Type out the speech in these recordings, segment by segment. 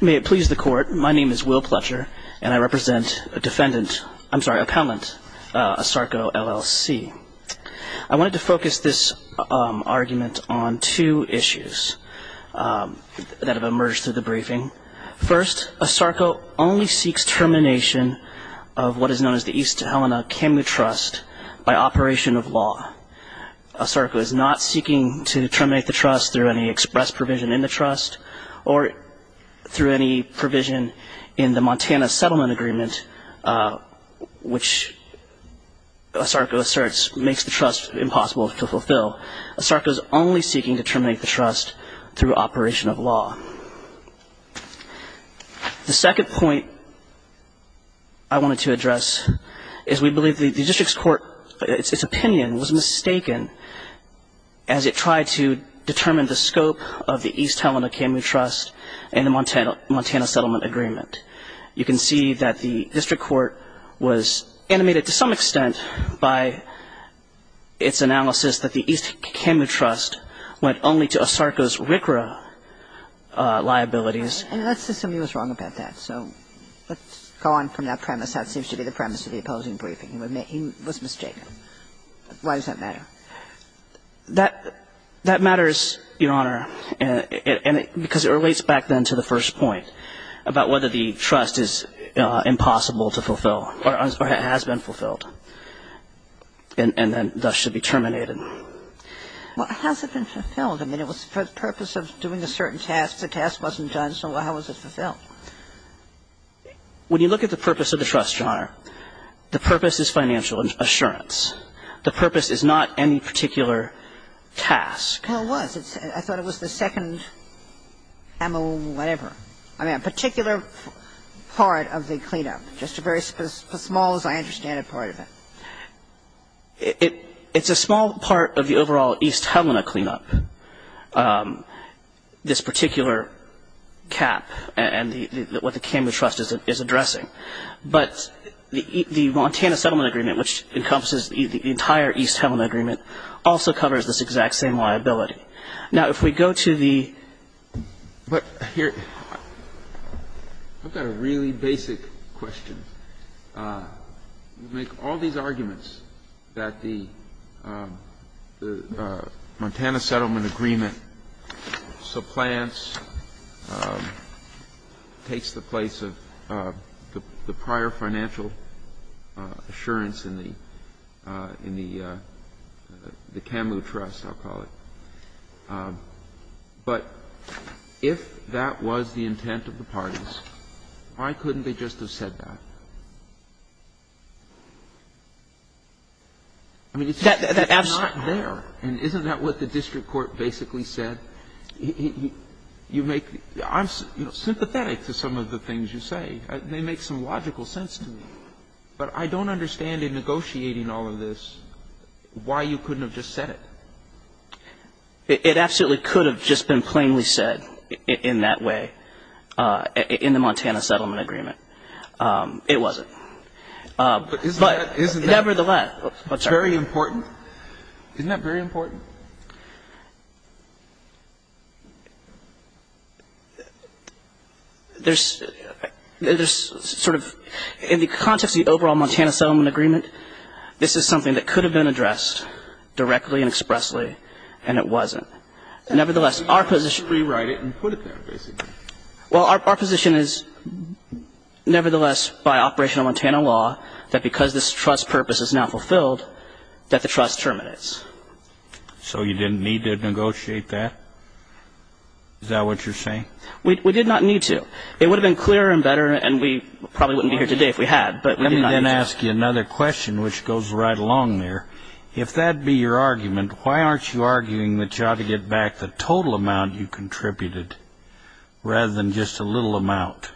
May it please the court. My name is Will Pletcher, and I represent a defendant. I'm sorry appellant Sarko LLC. I wanted to focus this argument on two issues That have emerged through the briefing first a Sarko only seeks termination of What is known as the East Helena Camu trust by operation of law? Sarko is not seeking to terminate the trust through any express provision in the trust or Through any provision in the Montana settlement agreement which Sarko asserts makes the trust impossible to fulfill Sarko is only seeking to terminate the trust through operation of law The second point I Wanted to address is we believe the district's court its opinion was mistaken as It tried to determine the scope of the East Helena Camu trust and the Montana Montana settlement agreement you can see that the district court was animated to some extent by Its analysis that the East Camu trust went only to a Sarko's RCRA Liabilities Go on from that premise that seems to be the premise of the opposing briefing. He was mistaken. Why does that matter? That that matters your honor and Because it relates back then to the first point about whether the trust is Impossible to fulfill or has been fulfilled And then that should be terminated What hasn't been fulfilled? I mean it was for the purpose of doing a certain task the test wasn't done. So how was it fulfilled? The purpose is financial assurance the purpose is not any particular Task, how was it? I thought it was the second Ammo, whatever. I mean a particular Part of the cleanup just a very small as I understand it part of it It it's a small part of the overall East Helena cleanup This particular Cap and what the Camu trust is addressing but the the Montana settlement agreement which encompasses the Entire East Helena agreement also covers this exact same liability now if we go to the but here I've got a really basic question Make all these arguments that the Montana settlement agreement Supplants Takes the place of the prior financial assurance in the in the The Camu trust I'll call it But if that was the intent of the parties, why couldn't they just have said that I And isn't that what the district court basically said You make I'm Sympathetic to some of the things you say they make some logical sense to me, but I don't understand in negotiating all of this Why you couldn't have just said it It absolutely could have just been plainly said in that way in the Montana settlement agreement It wasn't But nevertheless, it's very important, isn't that very important There's There's sort of in the context the overall Montana settlement agreement. This is something that could have been addressed Directly and expressly and it wasn't nevertheless our position rewrite it and put it there basically. Well, our position is Nevertheless by operational Montana law that because this trust purpose is now fulfilled that the trust terminates So you didn't need to negotiate that Is that what you're saying? We did not need to it would have been clearer and better and we probably wouldn't be here today if we had but let me Then ask you another question, which goes right along there if that be your argument Why aren't you arguing that you ought to get back the total amount you contributed? Rather than just a little amount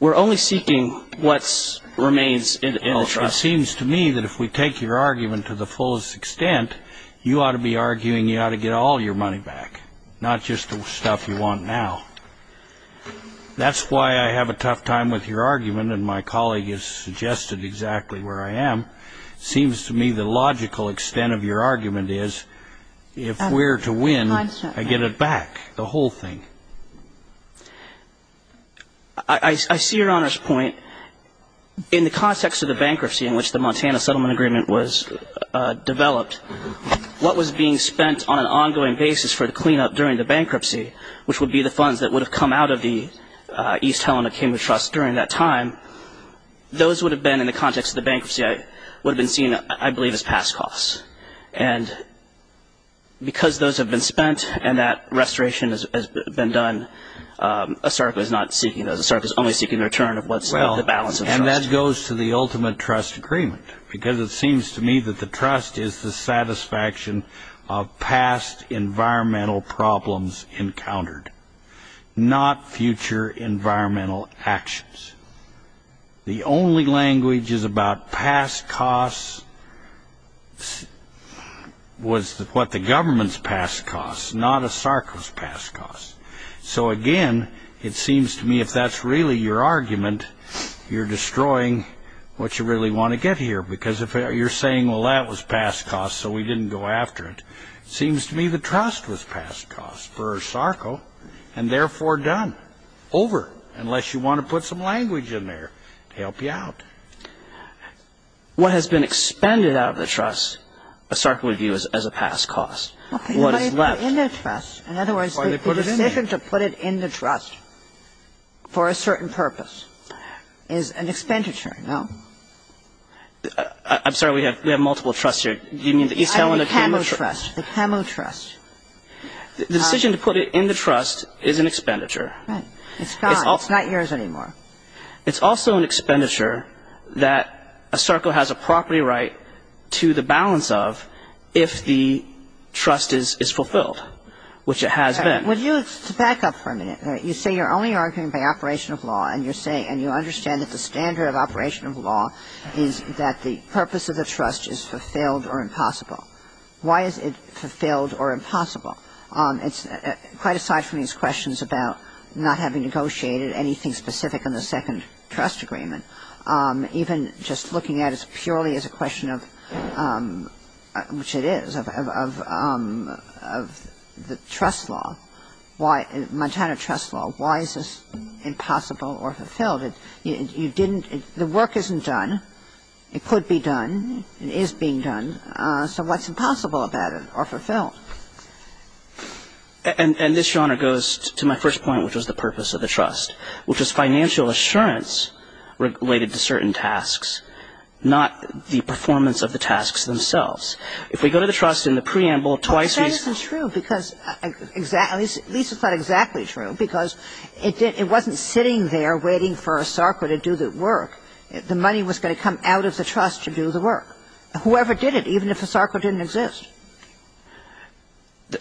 We're only seeking what's Remains in the trust seems to me that if we take your argument to the fullest extent You ought to be arguing you ought to get all your money back. Not just the stuff you want now That's why I have a tough time with your argument and my colleague is suggested exactly where I am Seems to me the logical extent of your argument is if we're to win I get it back the whole thing I see your honors point in the context of the bankruptcy in which the Montana settlement agreement was developed what was being spent on an ongoing basis for the cleanup during the bankruptcy, which would be the funds that would have come out of the East Helena came to trust during that time Those would have been in the context of the bankruptcy. I would have been seen. I believe his past costs and Because those have been spent and that restoration has been done Asarka is not seeking as a start is only seeking their turn of what's well the balance and that goes to the ultimate trust agreement Because it seems to me that the trust is the satisfaction of past environmental problems encountered not future environmental actions The only language is about past costs Was what the government's past costs not a circus past costs so again It seems to me if that's really your argument You're destroying what you really want to get here because if you're saying well, that was past cost So we didn't go after it seems to me the trust was past cost for a circle and therefore done Over unless you want to put some language in there to help you out What has been expended out of the trust a circle of you is as a past cost What is left in their trust in other words they put it in to put it in the trust for a certain purpose is an expenditure no I'm sorry. We have we have multiple trust here. Do you mean the East Helena? Can we trust the camo trust? The decision to put it in the trust is an expenditure. It's not it's not yours anymore it's also an expenditure that a circle has a property right to the balance of if the Trust is is fulfilled Which it has been would you it's to back up for a minute you say you're only arguing by operation of law and you're saying And you understand that the standard of operation of law is that the purpose of the trust is fulfilled or impossible Why is it fulfilled or impossible? It's quite aside from these questions about not having negotiated anything specific in the second trust agreement even just looking at as purely as a question of Which it is of The trust law why Montana trust law why is this impossible or fulfilled it you didn't the work isn't done It could be done. It is being done. So what's impossible about it or fulfilled? And and this genre goes to my first point which was the purpose of the trust which is financial assurance related to certain tasks Not the performance of the tasks themselves if we go to the trust in the preamble twice This is true because I exactly Lisa thought exactly true because it didn't it wasn't sitting there waiting for a circle to do the work The money was going to come out of the trust to do the work. Whoever did it even if a circle didn't exist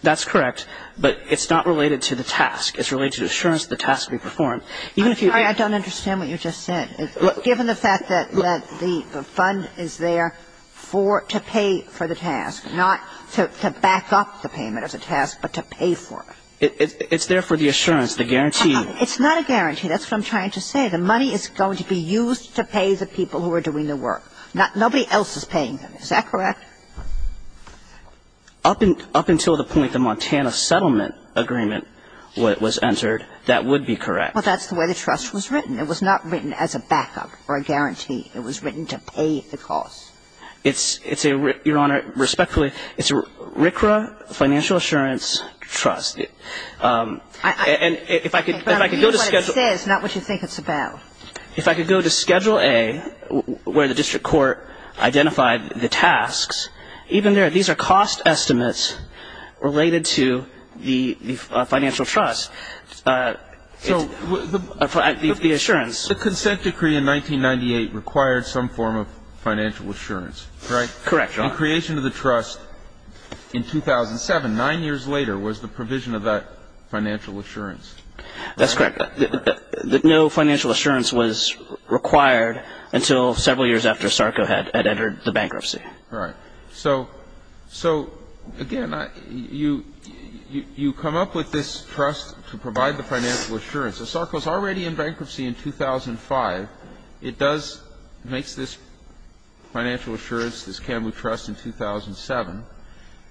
That's correct, but it's not related to the task it's related assurance the task we perform Even if you I don't understand what you just said given the fact that let the fund is there For to pay for the task not to back up the payment as a task, but to pay for it It's there for the assurance the guarantee. It's not a guarantee That's what I'm trying to say The money is going to be used to pay the people who are doing the work not nobody else is paying them Is that correct? Up and up until the point the Montana settlement agreement what was entered that would be correct Well, that's the way the trust was written. It was not written as a backup or a guarantee It was written to pay the cost. It's it's a your honor respectfully. It's a RCRA financial assurance trust And if I could if I could go to schedule, it's not what you think it's about if I could go to schedule a Where the district court identified the tasks even there these are cost estimates related to the financial trust So The assurance the consent decree in 1998 required some form of financial assurance, right? Correct creation of the trust In 2007 nine years later was the provision of that financial assurance. That's correct that no financial assurance was Required until several years after Sarko had had entered the bankruptcy, right? So so again I you You come up with this trust to provide the financial assurance the Sarko's already in bankruptcy in 2005 it does makes this financial assurance this Kamu trust in 2007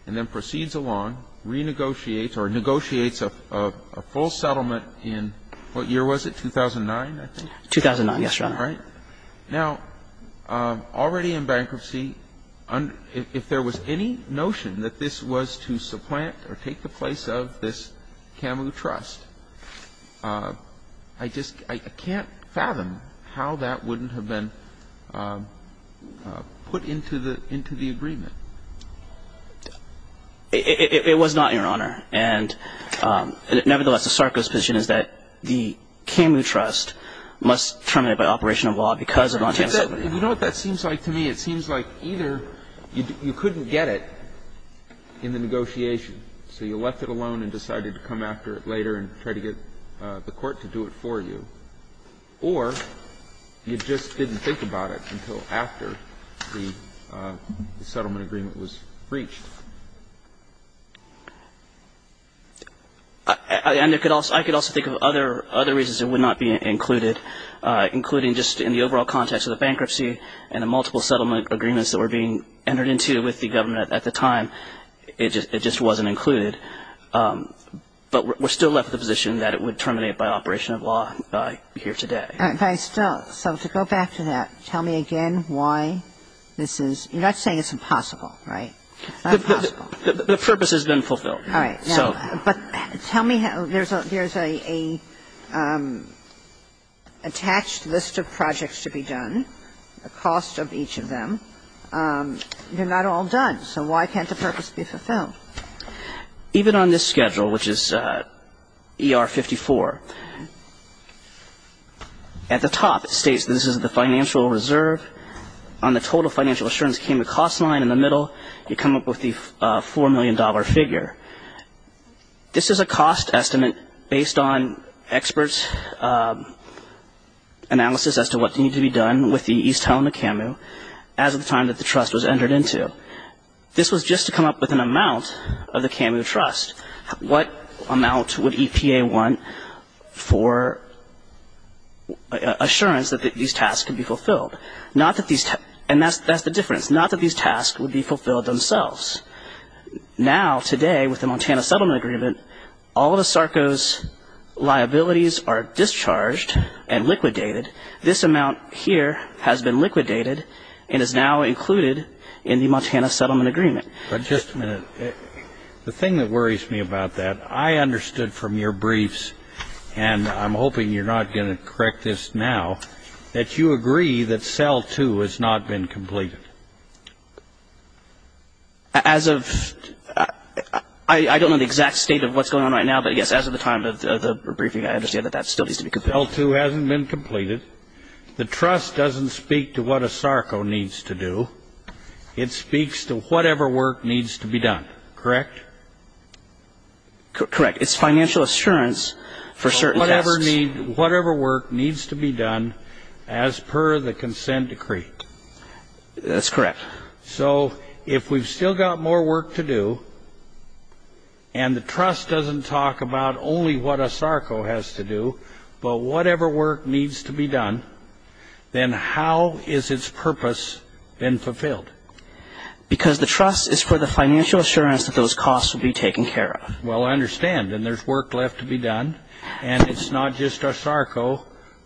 and then proceeds along renegotiates or negotiates a Full settlement in what year was it 2009? I think 2009. Yes, right now already in bankruptcy If there was any notion that this was to supplant or take the place of this Kamu trust I just I can't fathom how that wouldn't have been Put into the into the agreement It was not your honor and nevertheless the Sarko's position is that the You couldn't get it In the negotiation, so you left it alone and decided to come after it later and try to get the court to do it for you or You just didn't think about it until after Settlement agreement was breached And it could also I could also think of other other reasons it would not be included Including just in the overall context of the bankruptcy and a multiple settlement agreements that were being entered into with the government at the time It just it just wasn't included But we're still left the position that it would terminate by operation of law by here today Okay, still so to go back to that. Tell me again. Why this is you're not saying it's impossible, right? The purpose has been fulfilled. All right, so but tell me how there's a there's a Attached list of projects to be done the cost of each of them They're not all done. So why can't the purpose be fulfilled? even on this schedule, which is er 54 At the top it states this is the financial reserve on the total financial assurance came to cost line in the middle you come up with the four million dollar figure This is a cost estimate based on experts Analysis As to what they need to be done with the East Helena camu as of the time that the trust was entered into This was just to come up with an amount of the camu trust. What amount would EPA want? for Assurance that these tasks can be fulfilled not that these and that's that's the difference not that these tasks would be fulfilled themselves Now today with the Montana settlement agreement all of the Sarko's Liabilities are discharged and liquidated this amount here has been liquidated and is now included in the Montana settlement agreement, but just a minute The thing that worries me about that. I understood from your briefs and I'm hoping you're not gonna correct this now that you agree that cell two has not been completed As of I Understand that that still needs to be compelled to hasn't been completed the trust doesn't speak to what a Sarko needs to do It speaks to whatever work needs to be done, correct? Correct, it's financial assurance for certain ever need whatever work needs to be done as per the consent decree That's correct. So if we've still got more work to do and The trust doesn't talk about only what a Sarko has to do, but whatever work needs to be done Then how is its purpose been fulfilled? Because the trust is for the financial assurance that those costs will be taken care of Well, I understand and there's work left to be done and it's not just a Sarko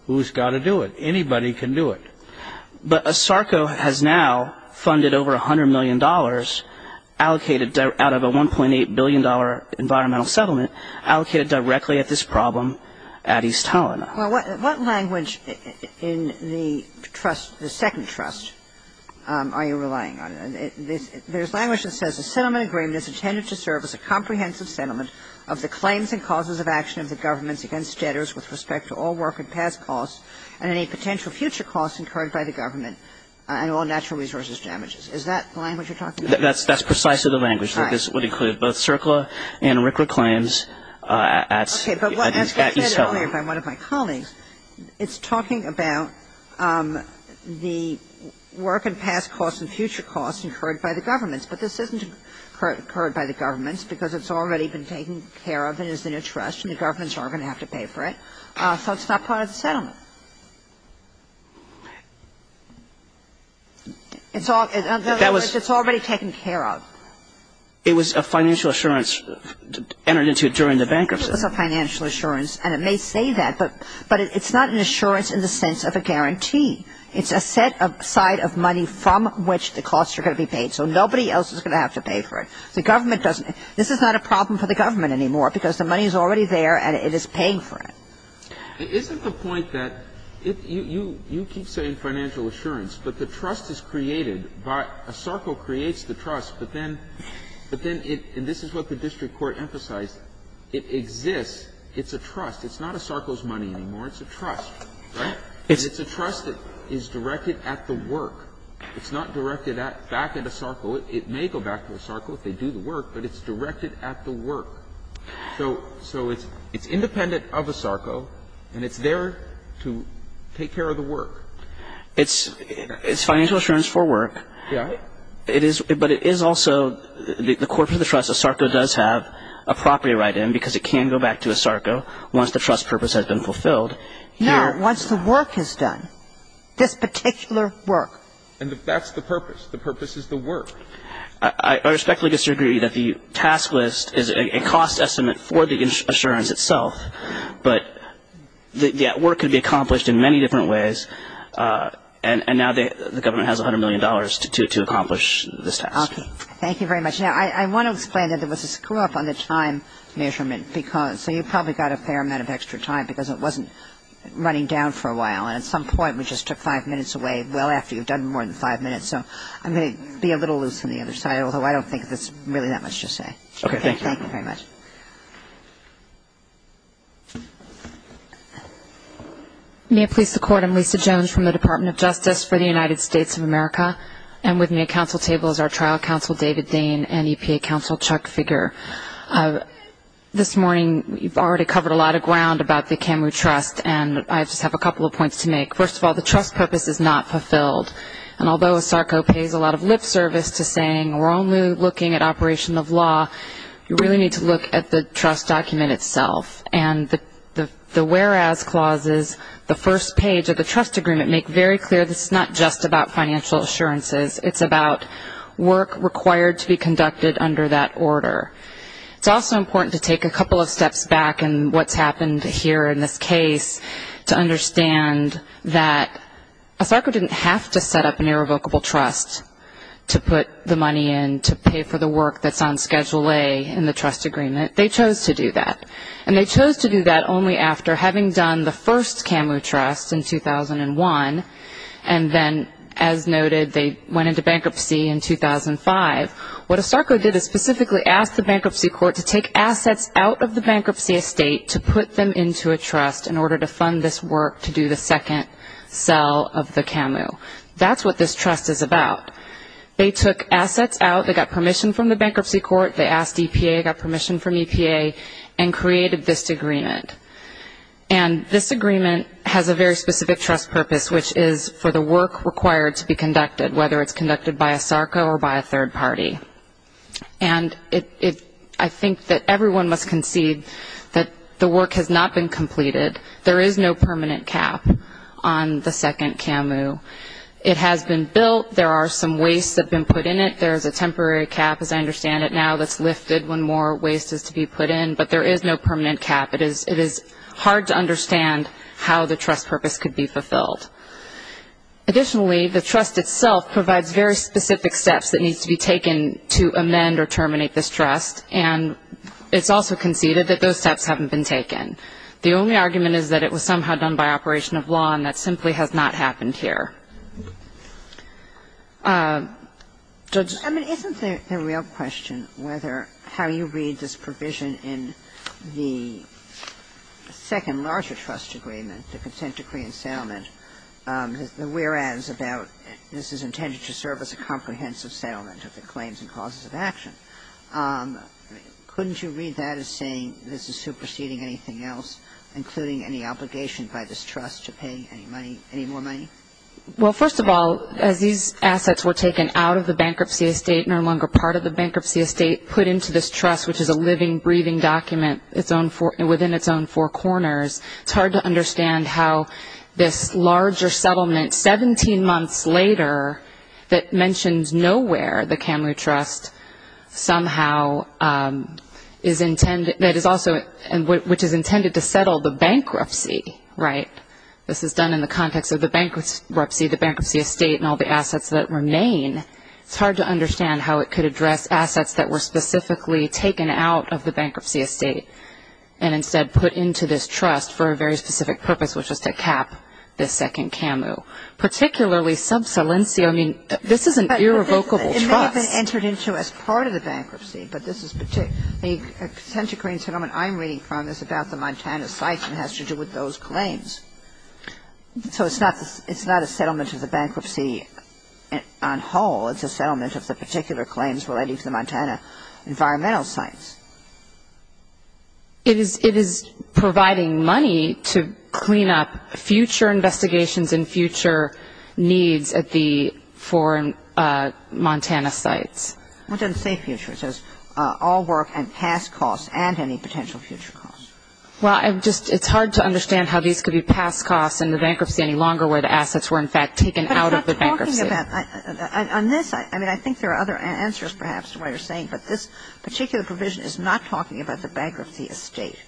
who's got to do it. Anybody can do it But a Sarko has now funded over a hundred million dollars Allocated out of a 1.8 billion dollar environmental settlement allocated directly at this problem at East Helena What language in the trust the second trust? Are you relying on it? there's language that says the settlement agreement is intended to serve as a comprehensive settlement of the claims and causes of action of the government's against debtors with respect to all work and past costs and any Potential future costs incurred by the government and all natural resources damages. Is that language you're talking? That's that's precisely the language that this would include both circular and record claims at It's talking about the work and past costs and future costs incurred by the government's but this isn't Current by the government's because it's already been taken care of it is the new trust and the government's are gonna have to pay for it So it's not part of the settlement It's all that was it's already taken care of it was a financial assurance Entered into it during the bankruptcy. It's a financial assurance and it may say that but but it's not an assurance in the sense of a Guarantee, it's a set of side of money from which the costs are going to be paid So nobody else is gonna have to pay for it The government doesn't this is not a problem for the government anymore because the money is already there and it is paying for it Isn't the point that? If you you keep saying financial assurance, but the trust is created by a circle creates the trust but then But then it and this is what the district court emphasized it exists. It's a trust. It's not a circles money anymore It's a trust. It's a trust that is directed at the work. It's not directed at back at a circle It may go back to a circle if they do the work, but it's directed at the work So so it's it's independent of a circle and it's there to take care of the work It's it's financial assurance for work. Yeah, it is but it is also The corporate trust a circle does have a property right in because it can go back to a circle Once the trust purpose has been fulfilled Yeah, once the work is done this particular work and if that's the purpose the purpose is the work I respectfully disagree that the task list is a cost estimate for the insurance itself, but The work could be accomplished in many different ways And and now the government has 100 million dollars to accomplish this task. Thank you very much Yeah, I want to explain that there was a screw-up on the time measurement because so you probably got a fair amount of extra time Because it wasn't running down for a while and at some point we just took five minutes away Well after you've done more than five minutes, so I'm gonna be a little loose on the other side Although I don't think that's really that much to say. Okay. Thank you very much May I please the court I'm Lisa Jones from the Department of Justice for the United States of America And with me a council table is our trial counsel David Dane and EPA counsel Chuck figure This morning. You've already covered a lot of ground about the camu trust And I just have a couple of points to make first of all The trust purpose is not fulfilled and although Sarko pays a lot of lip service to saying we're only looking at operation of law You really need to look at the trust document itself And the the the whereas clauses the first page of the trust agreement make very clear This is not just about financial assurances. It's about work required to be conducted under that order It's also important to take a couple of steps back and what's happened here in this case to understand that A soccer didn't have to set up an irrevocable trust To put the money in to pay for the work that's on schedule a in the trust agreement they chose to do that and they chose to do that only after having done the first camu trust in 2001 and Then as noted they went into bankruptcy in 2005 What a star code did is specifically asked the bankruptcy court to take assets out of the bankruptcy estate To put them into a trust in order to fund this work to do the second cell of the camu That's what this trust is about They took assets out. They got permission from the bankruptcy court. They asked EPA got permission from EPA and created this agreement and This agreement has a very specific trust purpose which is for the work required to be conducted whether it's conducted by a Sarko or by a third party and I think that everyone must concede that the work has not been completed. There is no permanent cap on The second camu it has been built. There are some waste that been put in it There's a temporary cap as I understand it now that's lifted when more waste is to be put in but there is no permanent cap It is it is hard to understand how the trust purpose could be fulfilled Additionally the trust itself provides very specific steps that needs to be taken to amend or terminate this trust and It's also conceded that those steps haven't been taken The only argument is that it was somehow done by operation of law and that simply has not happened here Judge I mean isn't there a real question whether how you read this provision in the Second larger trust agreement the consent decree and settlement The whereas about this is intended to serve as a comprehensive settlement of the claims and causes of action Couldn't you read that as saying this is superseding anything else including any obligation by this trust to pay any money any more money Well, first of all as these assets were taken out of the bankruptcy estate no longer part of the bankruptcy estate put into this trust Which is a living breathing document its own for and within its own four corners It's hard to understand how this larger settlement 17 months later That mentions nowhere the Kamloo Trust somehow Is intended that is also and which is intended to settle the bankruptcy, right? This is done in the context of the bankruptcy the bankruptcy estate and all the assets that remain It's hard to understand how it could address assets that were specifically taken out of the bankruptcy estate and Instead put into this trust for a very specific purpose, which is to cap this second Kamloo particularly sub saliency I mean, this is an irrevocable Entered into as part of the bankruptcy, but this is particularly a century settlement I'm reading from this about the Montana site and has to do with those claims So it's not this it's not a settlement of the bankruptcy And on whole it's a settlement of the particular claims relating to the Montana environmental sites It is it is providing money to clean up future investigations in future needs at the foreign Montana sites what doesn't say future says all work and past costs and any potential future cost Well, I'm just it's hard to understand how these could be past costs and the bankruptcy any longer where the assets were In fact taken out of the bankruptcy On this I mean, I think there are other answers perhaps to what you're saying But this particular provision is not talking about the bankruptcy estate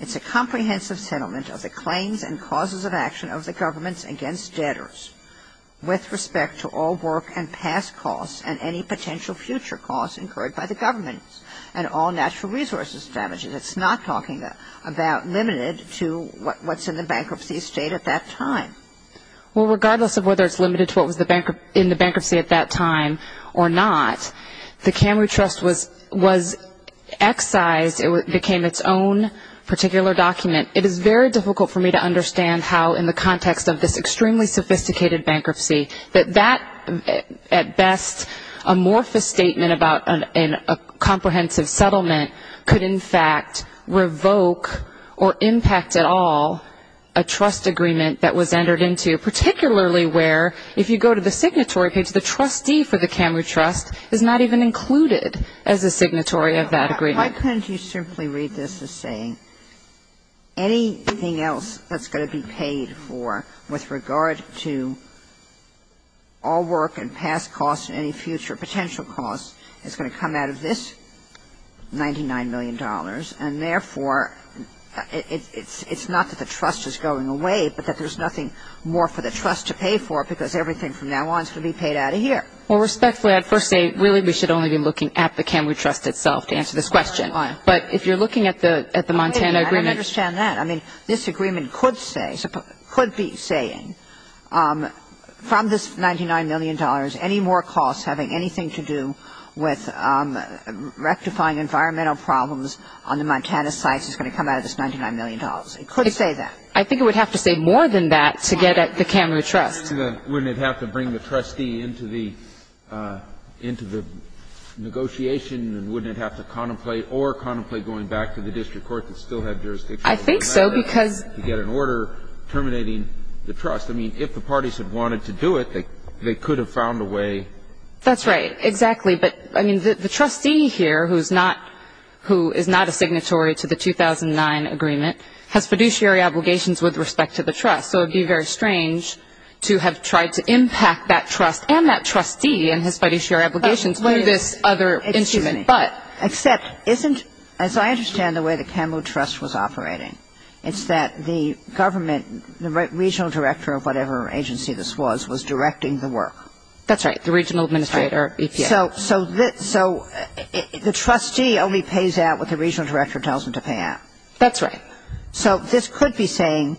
It's a comprehensive settlement of the claims and causes of action of the government's against debtors With respect to all work and past costs and any potential future costs incurred by the government and all natural resources Damages, it's not talking about limited to what's in the bankruptcy estate at that time Well, regardless of whether it's limited to what was the banker in the bankruptcy at that time or not. The Camry trust was was Excised it became its own Particular document it is very difficult for me to understand how in the context of this extremely sophisticated bankruptcy that that at best a morphous statement about an comprehensive settlement could in fact revoke or Impact at all a trust agreement that was entered into particularly where if you go to the signatory page the trustee for the Camry trust Is not even included as a signatory of that agreement. Why couldn't you simply read this as saying? Anything else that's going to be paid for with regard to All work and past costs any future potential cost it's going to come out of this 99 million dollars and therefore It's it's not that the trust is going away But that there's nothing more for the trust to pay for because everything from now on is gonna be paid out of here Well respectfully I'd first say really we should only be looking at the Camry trust itself to answer this question But if you're looking at the at the Montana agreement understand that I mean this agreement could say could be saying From this 99 million dollars any more costs having anything to do with Rectifying environmental problems on the Montana sites is going to come out of this 99 million dollars It could say that I think it would have to say more than that to get at the Camry trust wouldn't have to bring the trustee into the into the Negotiation and wouldn't have to contemplate or contemplate going back to the district court that still have jurisdiction. I think so because you get an order Terminating the trust. I mean if the parties have wanted to do it, they they could have found a way That's right. Exactly. But I mean the trustee here who's not who is not a signatory to the 2009 agreement Has fiduciary obligations with respect to the trust So it'd be very strange to have tried to impact that trust and that trustee and his fiduciary obligations What is this other instrument but except isn't as I understand the way the Camry trust was operating It's that the government the regional director of whatever agency this was was directing the work That's right. The regional administrator. So so that so The trustee only pays out what the regional director tells him to pay out. That's right. So this could be saying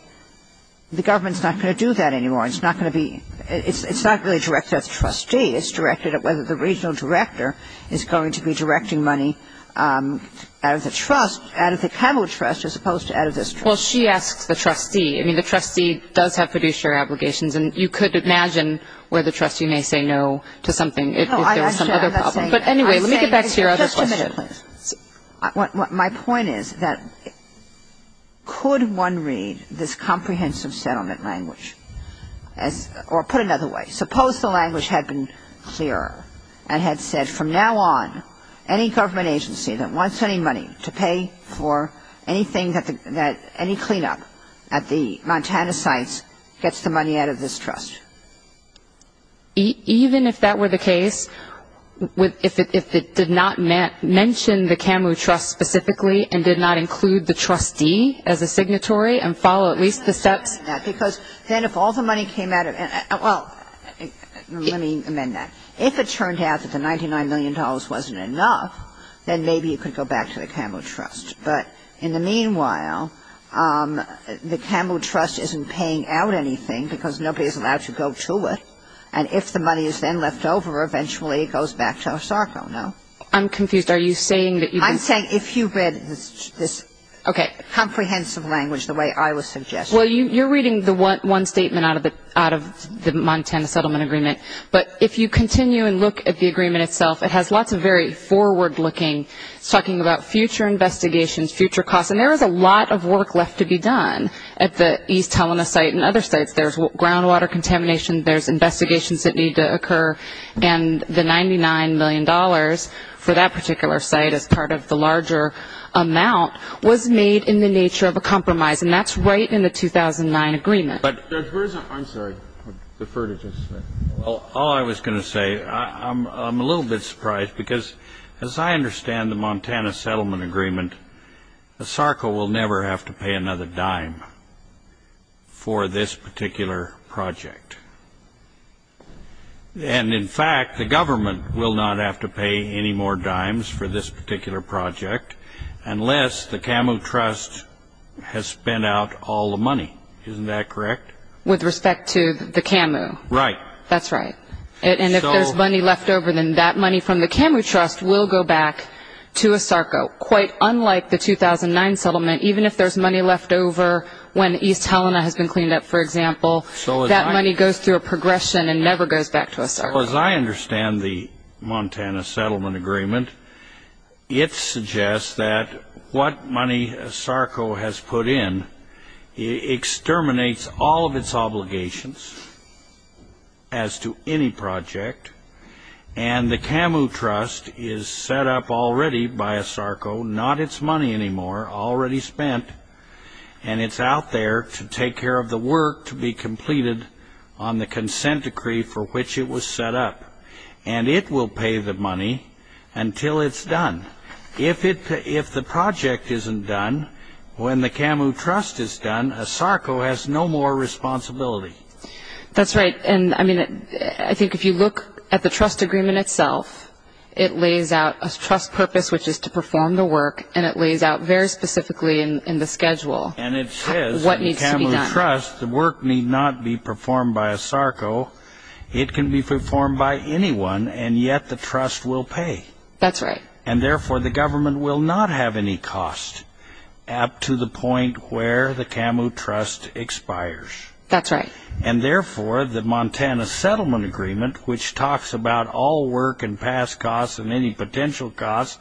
The government's not going to do that anymore. It's not going to be it's not really directed at the trustee It's directed at whether the regional director is going to be directing money Out of the trust out of the Camry trust as opposed to out of this trust. Well, she asks the trustee I mean the trustee does have fiduciary obligations and you could imagine where the trustee may say no to something But anyway, let me get back to your other My point is that Could one read this comprehensive settlement language as Or put another way suppose the language had been clearer and had said from now on Any government agency that wants any money to pay for anything that any cleanup at the Montana sites Gets the money out of this trust Even if that were the case with if it did not mention the Camry trust specifically and did not include the trustee as a signatory and follow at least the steps because then if all the money came out of well Let me amend that if it turned out that the ninety nine million dollars wasn't enough Then maybe you could go back to the Camry trust, but in the meanwhile The Camry trust isn't paying out anything because nobody is allowed to go to it And if the money is then left over eventually it goes back to our SARCO. No, I'm confused Are you saying that you I'm saying if you read this okay comprehensive language the way I was suggested You're reading the one statement out of it out of the Montana settlement agreement But if you continue and look at the agreement itself, it has lots of very forward-looking Talking about future investigations future costs and there is a lot of work left to be done at the East Helena site and other sites There's groundwater contamination. There's investigations that need to occur and The ninety nine million dollars for that particular site as part of the larger Amount was made in the nature of a compromise and that's right in the 2009 agreement, but I'm sorry the further All I was gonna say I'm a little bit surprised because as I understand the Montana settlement agreement The SARCO will never have to pay another dime for this particular project And in fact the government will not have to pay any more dimes for this particular project unless the camu trust Has spent out all the money, isn't that correct with respect to the camu, right? That's right it and if there's money left over then that money from the camu trust will go back to a SARCO quite unlike the 2009 settlement even if there's money left over when East Helena has been cleaned up for example So that money goes through a progression and never goes back to a SARCO as I understand the Montana settlement agreement It suggests that what money a SARCO has put in Exterminates all of its obligations as to any project and The camu trust is set up already by a SARCO not its money anymore already spent And it's out there to take care of the work to be completed on The consent decree for which it was set up and it will pay the money until it's done If it if the project isn't done when the camu trust is done a SARCO has no more responsibility That's right, and I mean it. I think if you look at the trust agreement itself It lays out a trust purpose Which is to perform the work and it lays out very specifically in the schedule And it says what needs to be done trust the work need not be performed by a SARCO It can be performed by anyone and yet the trust will pay that's right and therefore the government will not have any cost Up to the point where the camu trust expires That's right, and therefore the Montana settlement agreement which talks about all work and past costs and any potential costs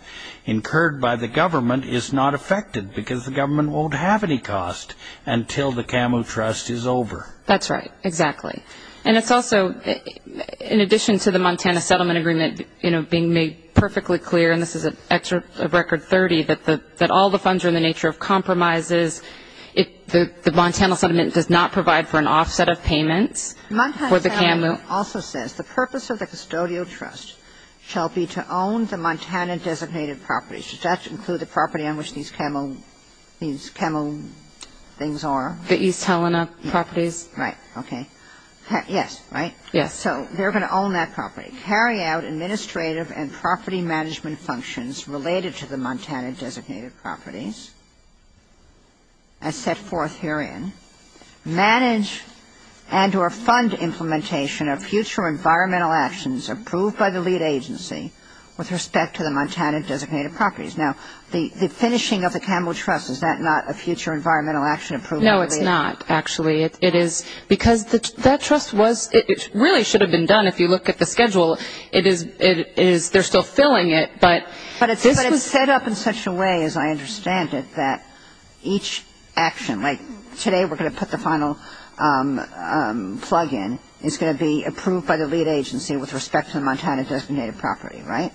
Incurred by the government is not affected because the government won't have any cost until the camu trust is over That's right exactly and it's also In addition to the Montana settlement agreement You know being made perfectly clear and this is an extra record 30 that the that all the funds are in the nature of Compromises if the the Montana settlement does not provide for an offset of payments My husband also says the purpose of the custodial trust shall be to own the Montana Designated properties does that include the property on which these camel these camel Things are the East Helena properties, right? Okay Yes, right Yes So they're going to own that property carry out administrative and property management functions related to the Montana designated properties As set forth herein manage and or fund Implementation of future environmental actions approved by the lead agency with respect to the Montana designated properties The finishing of the camel trust is that not a future environmental action approved? No, it's not actually it is because the that trust was it really should have been done If you look at the schedule it is it is they're still filling it But but it's this was set up in such a way as I understand it that each Action like today. We're going to put the final Plug-in it's going to be approved by the lead agency with respect to the Montana designated property, right?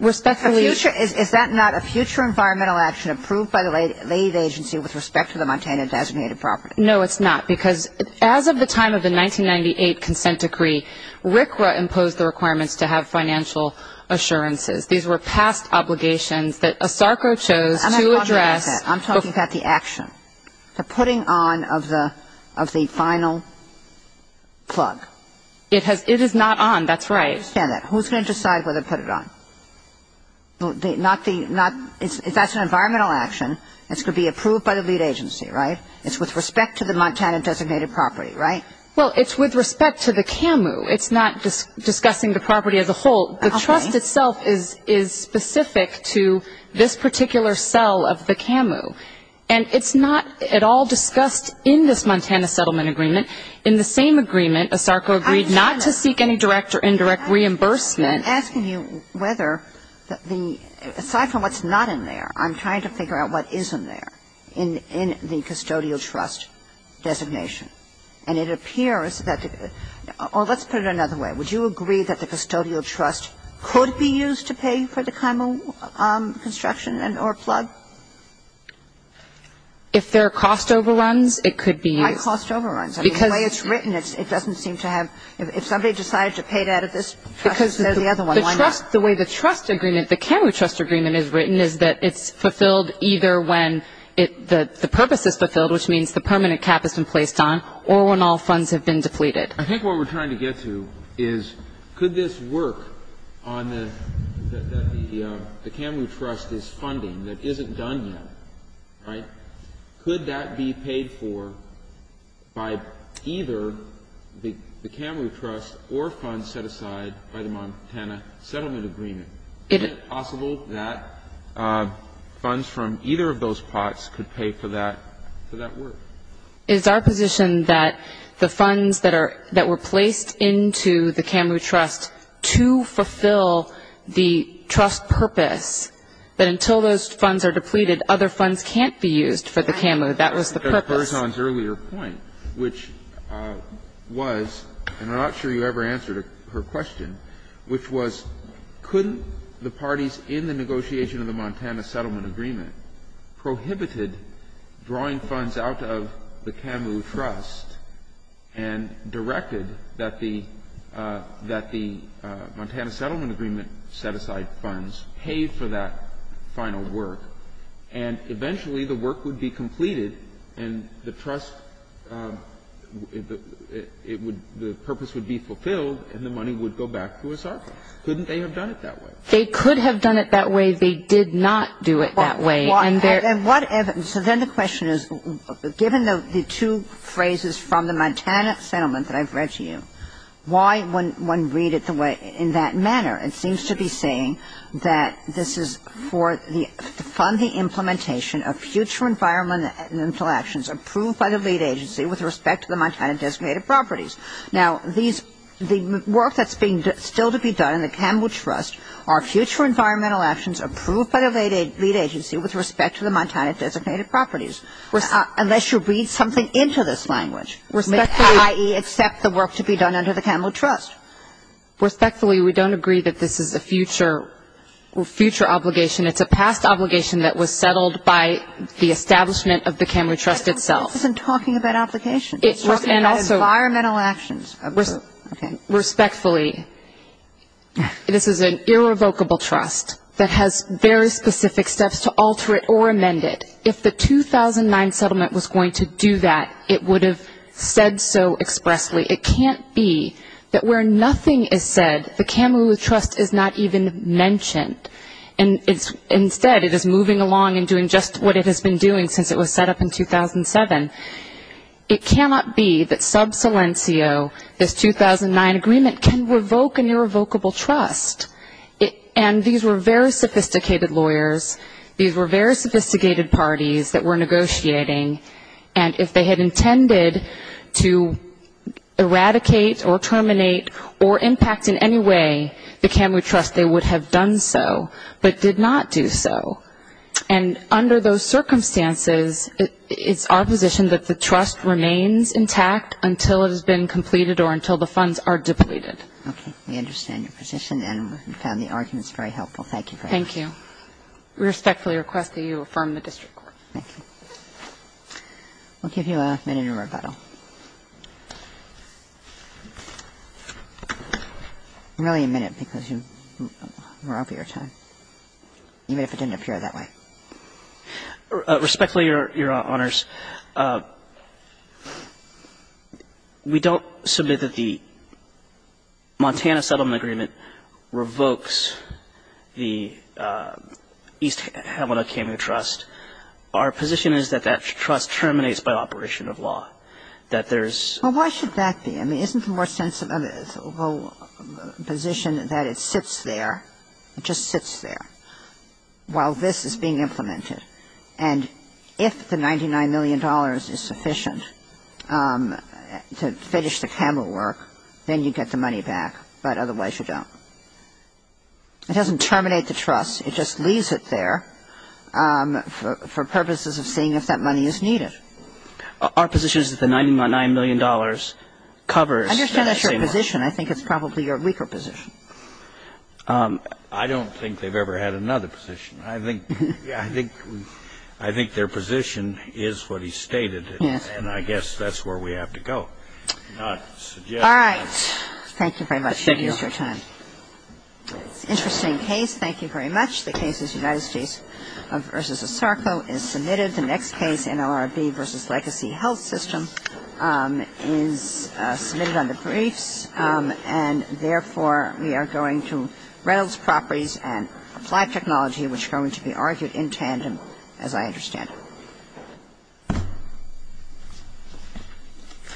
Respectfully sure is that not a future environmental action approved by the late lead agency with respect to the Montana designated property? No, it's not because as of the time of the 1998 consent decree Rikra imposed the requirements to have financial assurances. These were past obligations that a Sarko chose to address I'm talking about the action. They're putting on of the of the final Plug it has it is not on that's right. Yeah, that's right Who's going to decide whether to put it on? Well, they not the not if that's an environmental action, it's going to be approved by the lead agency, right? It's with respect to the Montana designated property, right? Well, it's with respect to the camu It's not just discussing the property of the whole the trust itself is is specific to this particular cell of the camu and It's not at all discussed in this Montana settlement agreement in the same agreement a Sarko agreed not to seek any direct or indirect Reimbursement asking you whether the aside from what's not in there I'm trying to figure out what isn't there in in the custodial trust Designation and it appears that oh, let's put it another way Would you agree that the custodial trust could be used to pay for the camu? construction and or plug If there are cost overruns it could be my cost overruns because it's written It doesn't seem to have if somebody decided to paid out of this The way the trust agreement the camu trust agreement is written is that it's fulfilled either when it The the purpose is fulfilled which means the permanent cap has been placed on or when all funds have been depleted I think what we're trying to get to is could this work on the The camu trust is funding that isn't done yet, right? Could that be paid for? By either the the camry trust or funds set aside by the Montana settlement agreement It is possible that Funds from either of those parts could pay for that Is our position that the funds that are that were placed into the camry trust to fulfill? the trust purpose That until those funds are depleted other funds can't be used for the camera. That was the purpose earlier point which Was and I'm not sure you ever answered her question Which was couldn't the parties in the negotiation of the Montana settlement agreement? prohibited drawing funds out of the camu trust and directed that the that the Montana settlement agreement set aside funds paid for that final work and Eventually the work would be completed and the trust It would the purpose would be fulfilled and the money would go back to us our couldn't they have done it that way They could have done it that way. They did not do it that way I'm there and whatever so then the question is given the two phrases from the Montana settlement that I've read to you Why when one read it the way in that manner? It seems to be saying that this is for the fund the implementation of future Environmental actions approved by the lead agency with respect to the Montana designated properties now these the work That's being still to be done in the camu trust our future environmental actions approved by the lady lead agency with respect to the Montana Designated properties unless you read something into this language Ie except the work to be done under the camu trust Respectfully we don't agree that this is a future Future obligation, it's a past obligation that was settled by the establishment of the camry trust itself isn't talking about application It was and also our mental actions Respectfully this is an irrevocable trust that has very specific steps to alter it or amend it if the 2009 settlement was going to do that it would have said so expressly it can't be That where nothing is said the camu trust is not even mentioned And it's instead it is moving along and doing just what it has been doing since it was set up in 2007 It cannot be that sub silencio this 2009 agreement can revoke an irrevocable trust It and these were very sophisticated lawyers. These were very sophisticated parties that were negotiating and if they had intended to Eradicate or terminate or impact in any way the camry trust they would have done so but did not do so and under those circumstances It's our position that the trust remains intact until it has been completed or until the funds are depleted Okay, we understand your position and found the arguments very helpful. Thank you. Thank you Respectfully request that you affirm the district court. Thank you We'll give you a minute of rebuttal Really a minute because you were out for your time, even if it didn't appear that way Respectfully your honors We don't submit that the Montana settlement agreement revokes the East Hamlet of camu trust our position is that that trust terminates by operation of law that there's Why should that be I mean isn't the more sensitive? Position that it sits there. It just sits there While this is being implemented and if the ninety nine million dollars is sufficient To finish the camera work, then you get the money back. But otherwise you don't It doesn't terminate the trust. It just leaves it there For purposes of seeing if that money is needed Our position is that the ninety nine million dollars covers your position, I think it's probably your weaker position I don't think they've ever had another position. I think yeah, I think I think their position is what he stated Yes, and I guess that's where we have to go All right. Thank you very much. Thank you Interesting case, thank you very much. The case is United States of versus a circle is submitted the next case in LRB versus legacy health system is submitted on the briefs and Therefore we are going to Reynolds properties and applied technology which are going to be argued in tandem as I understand it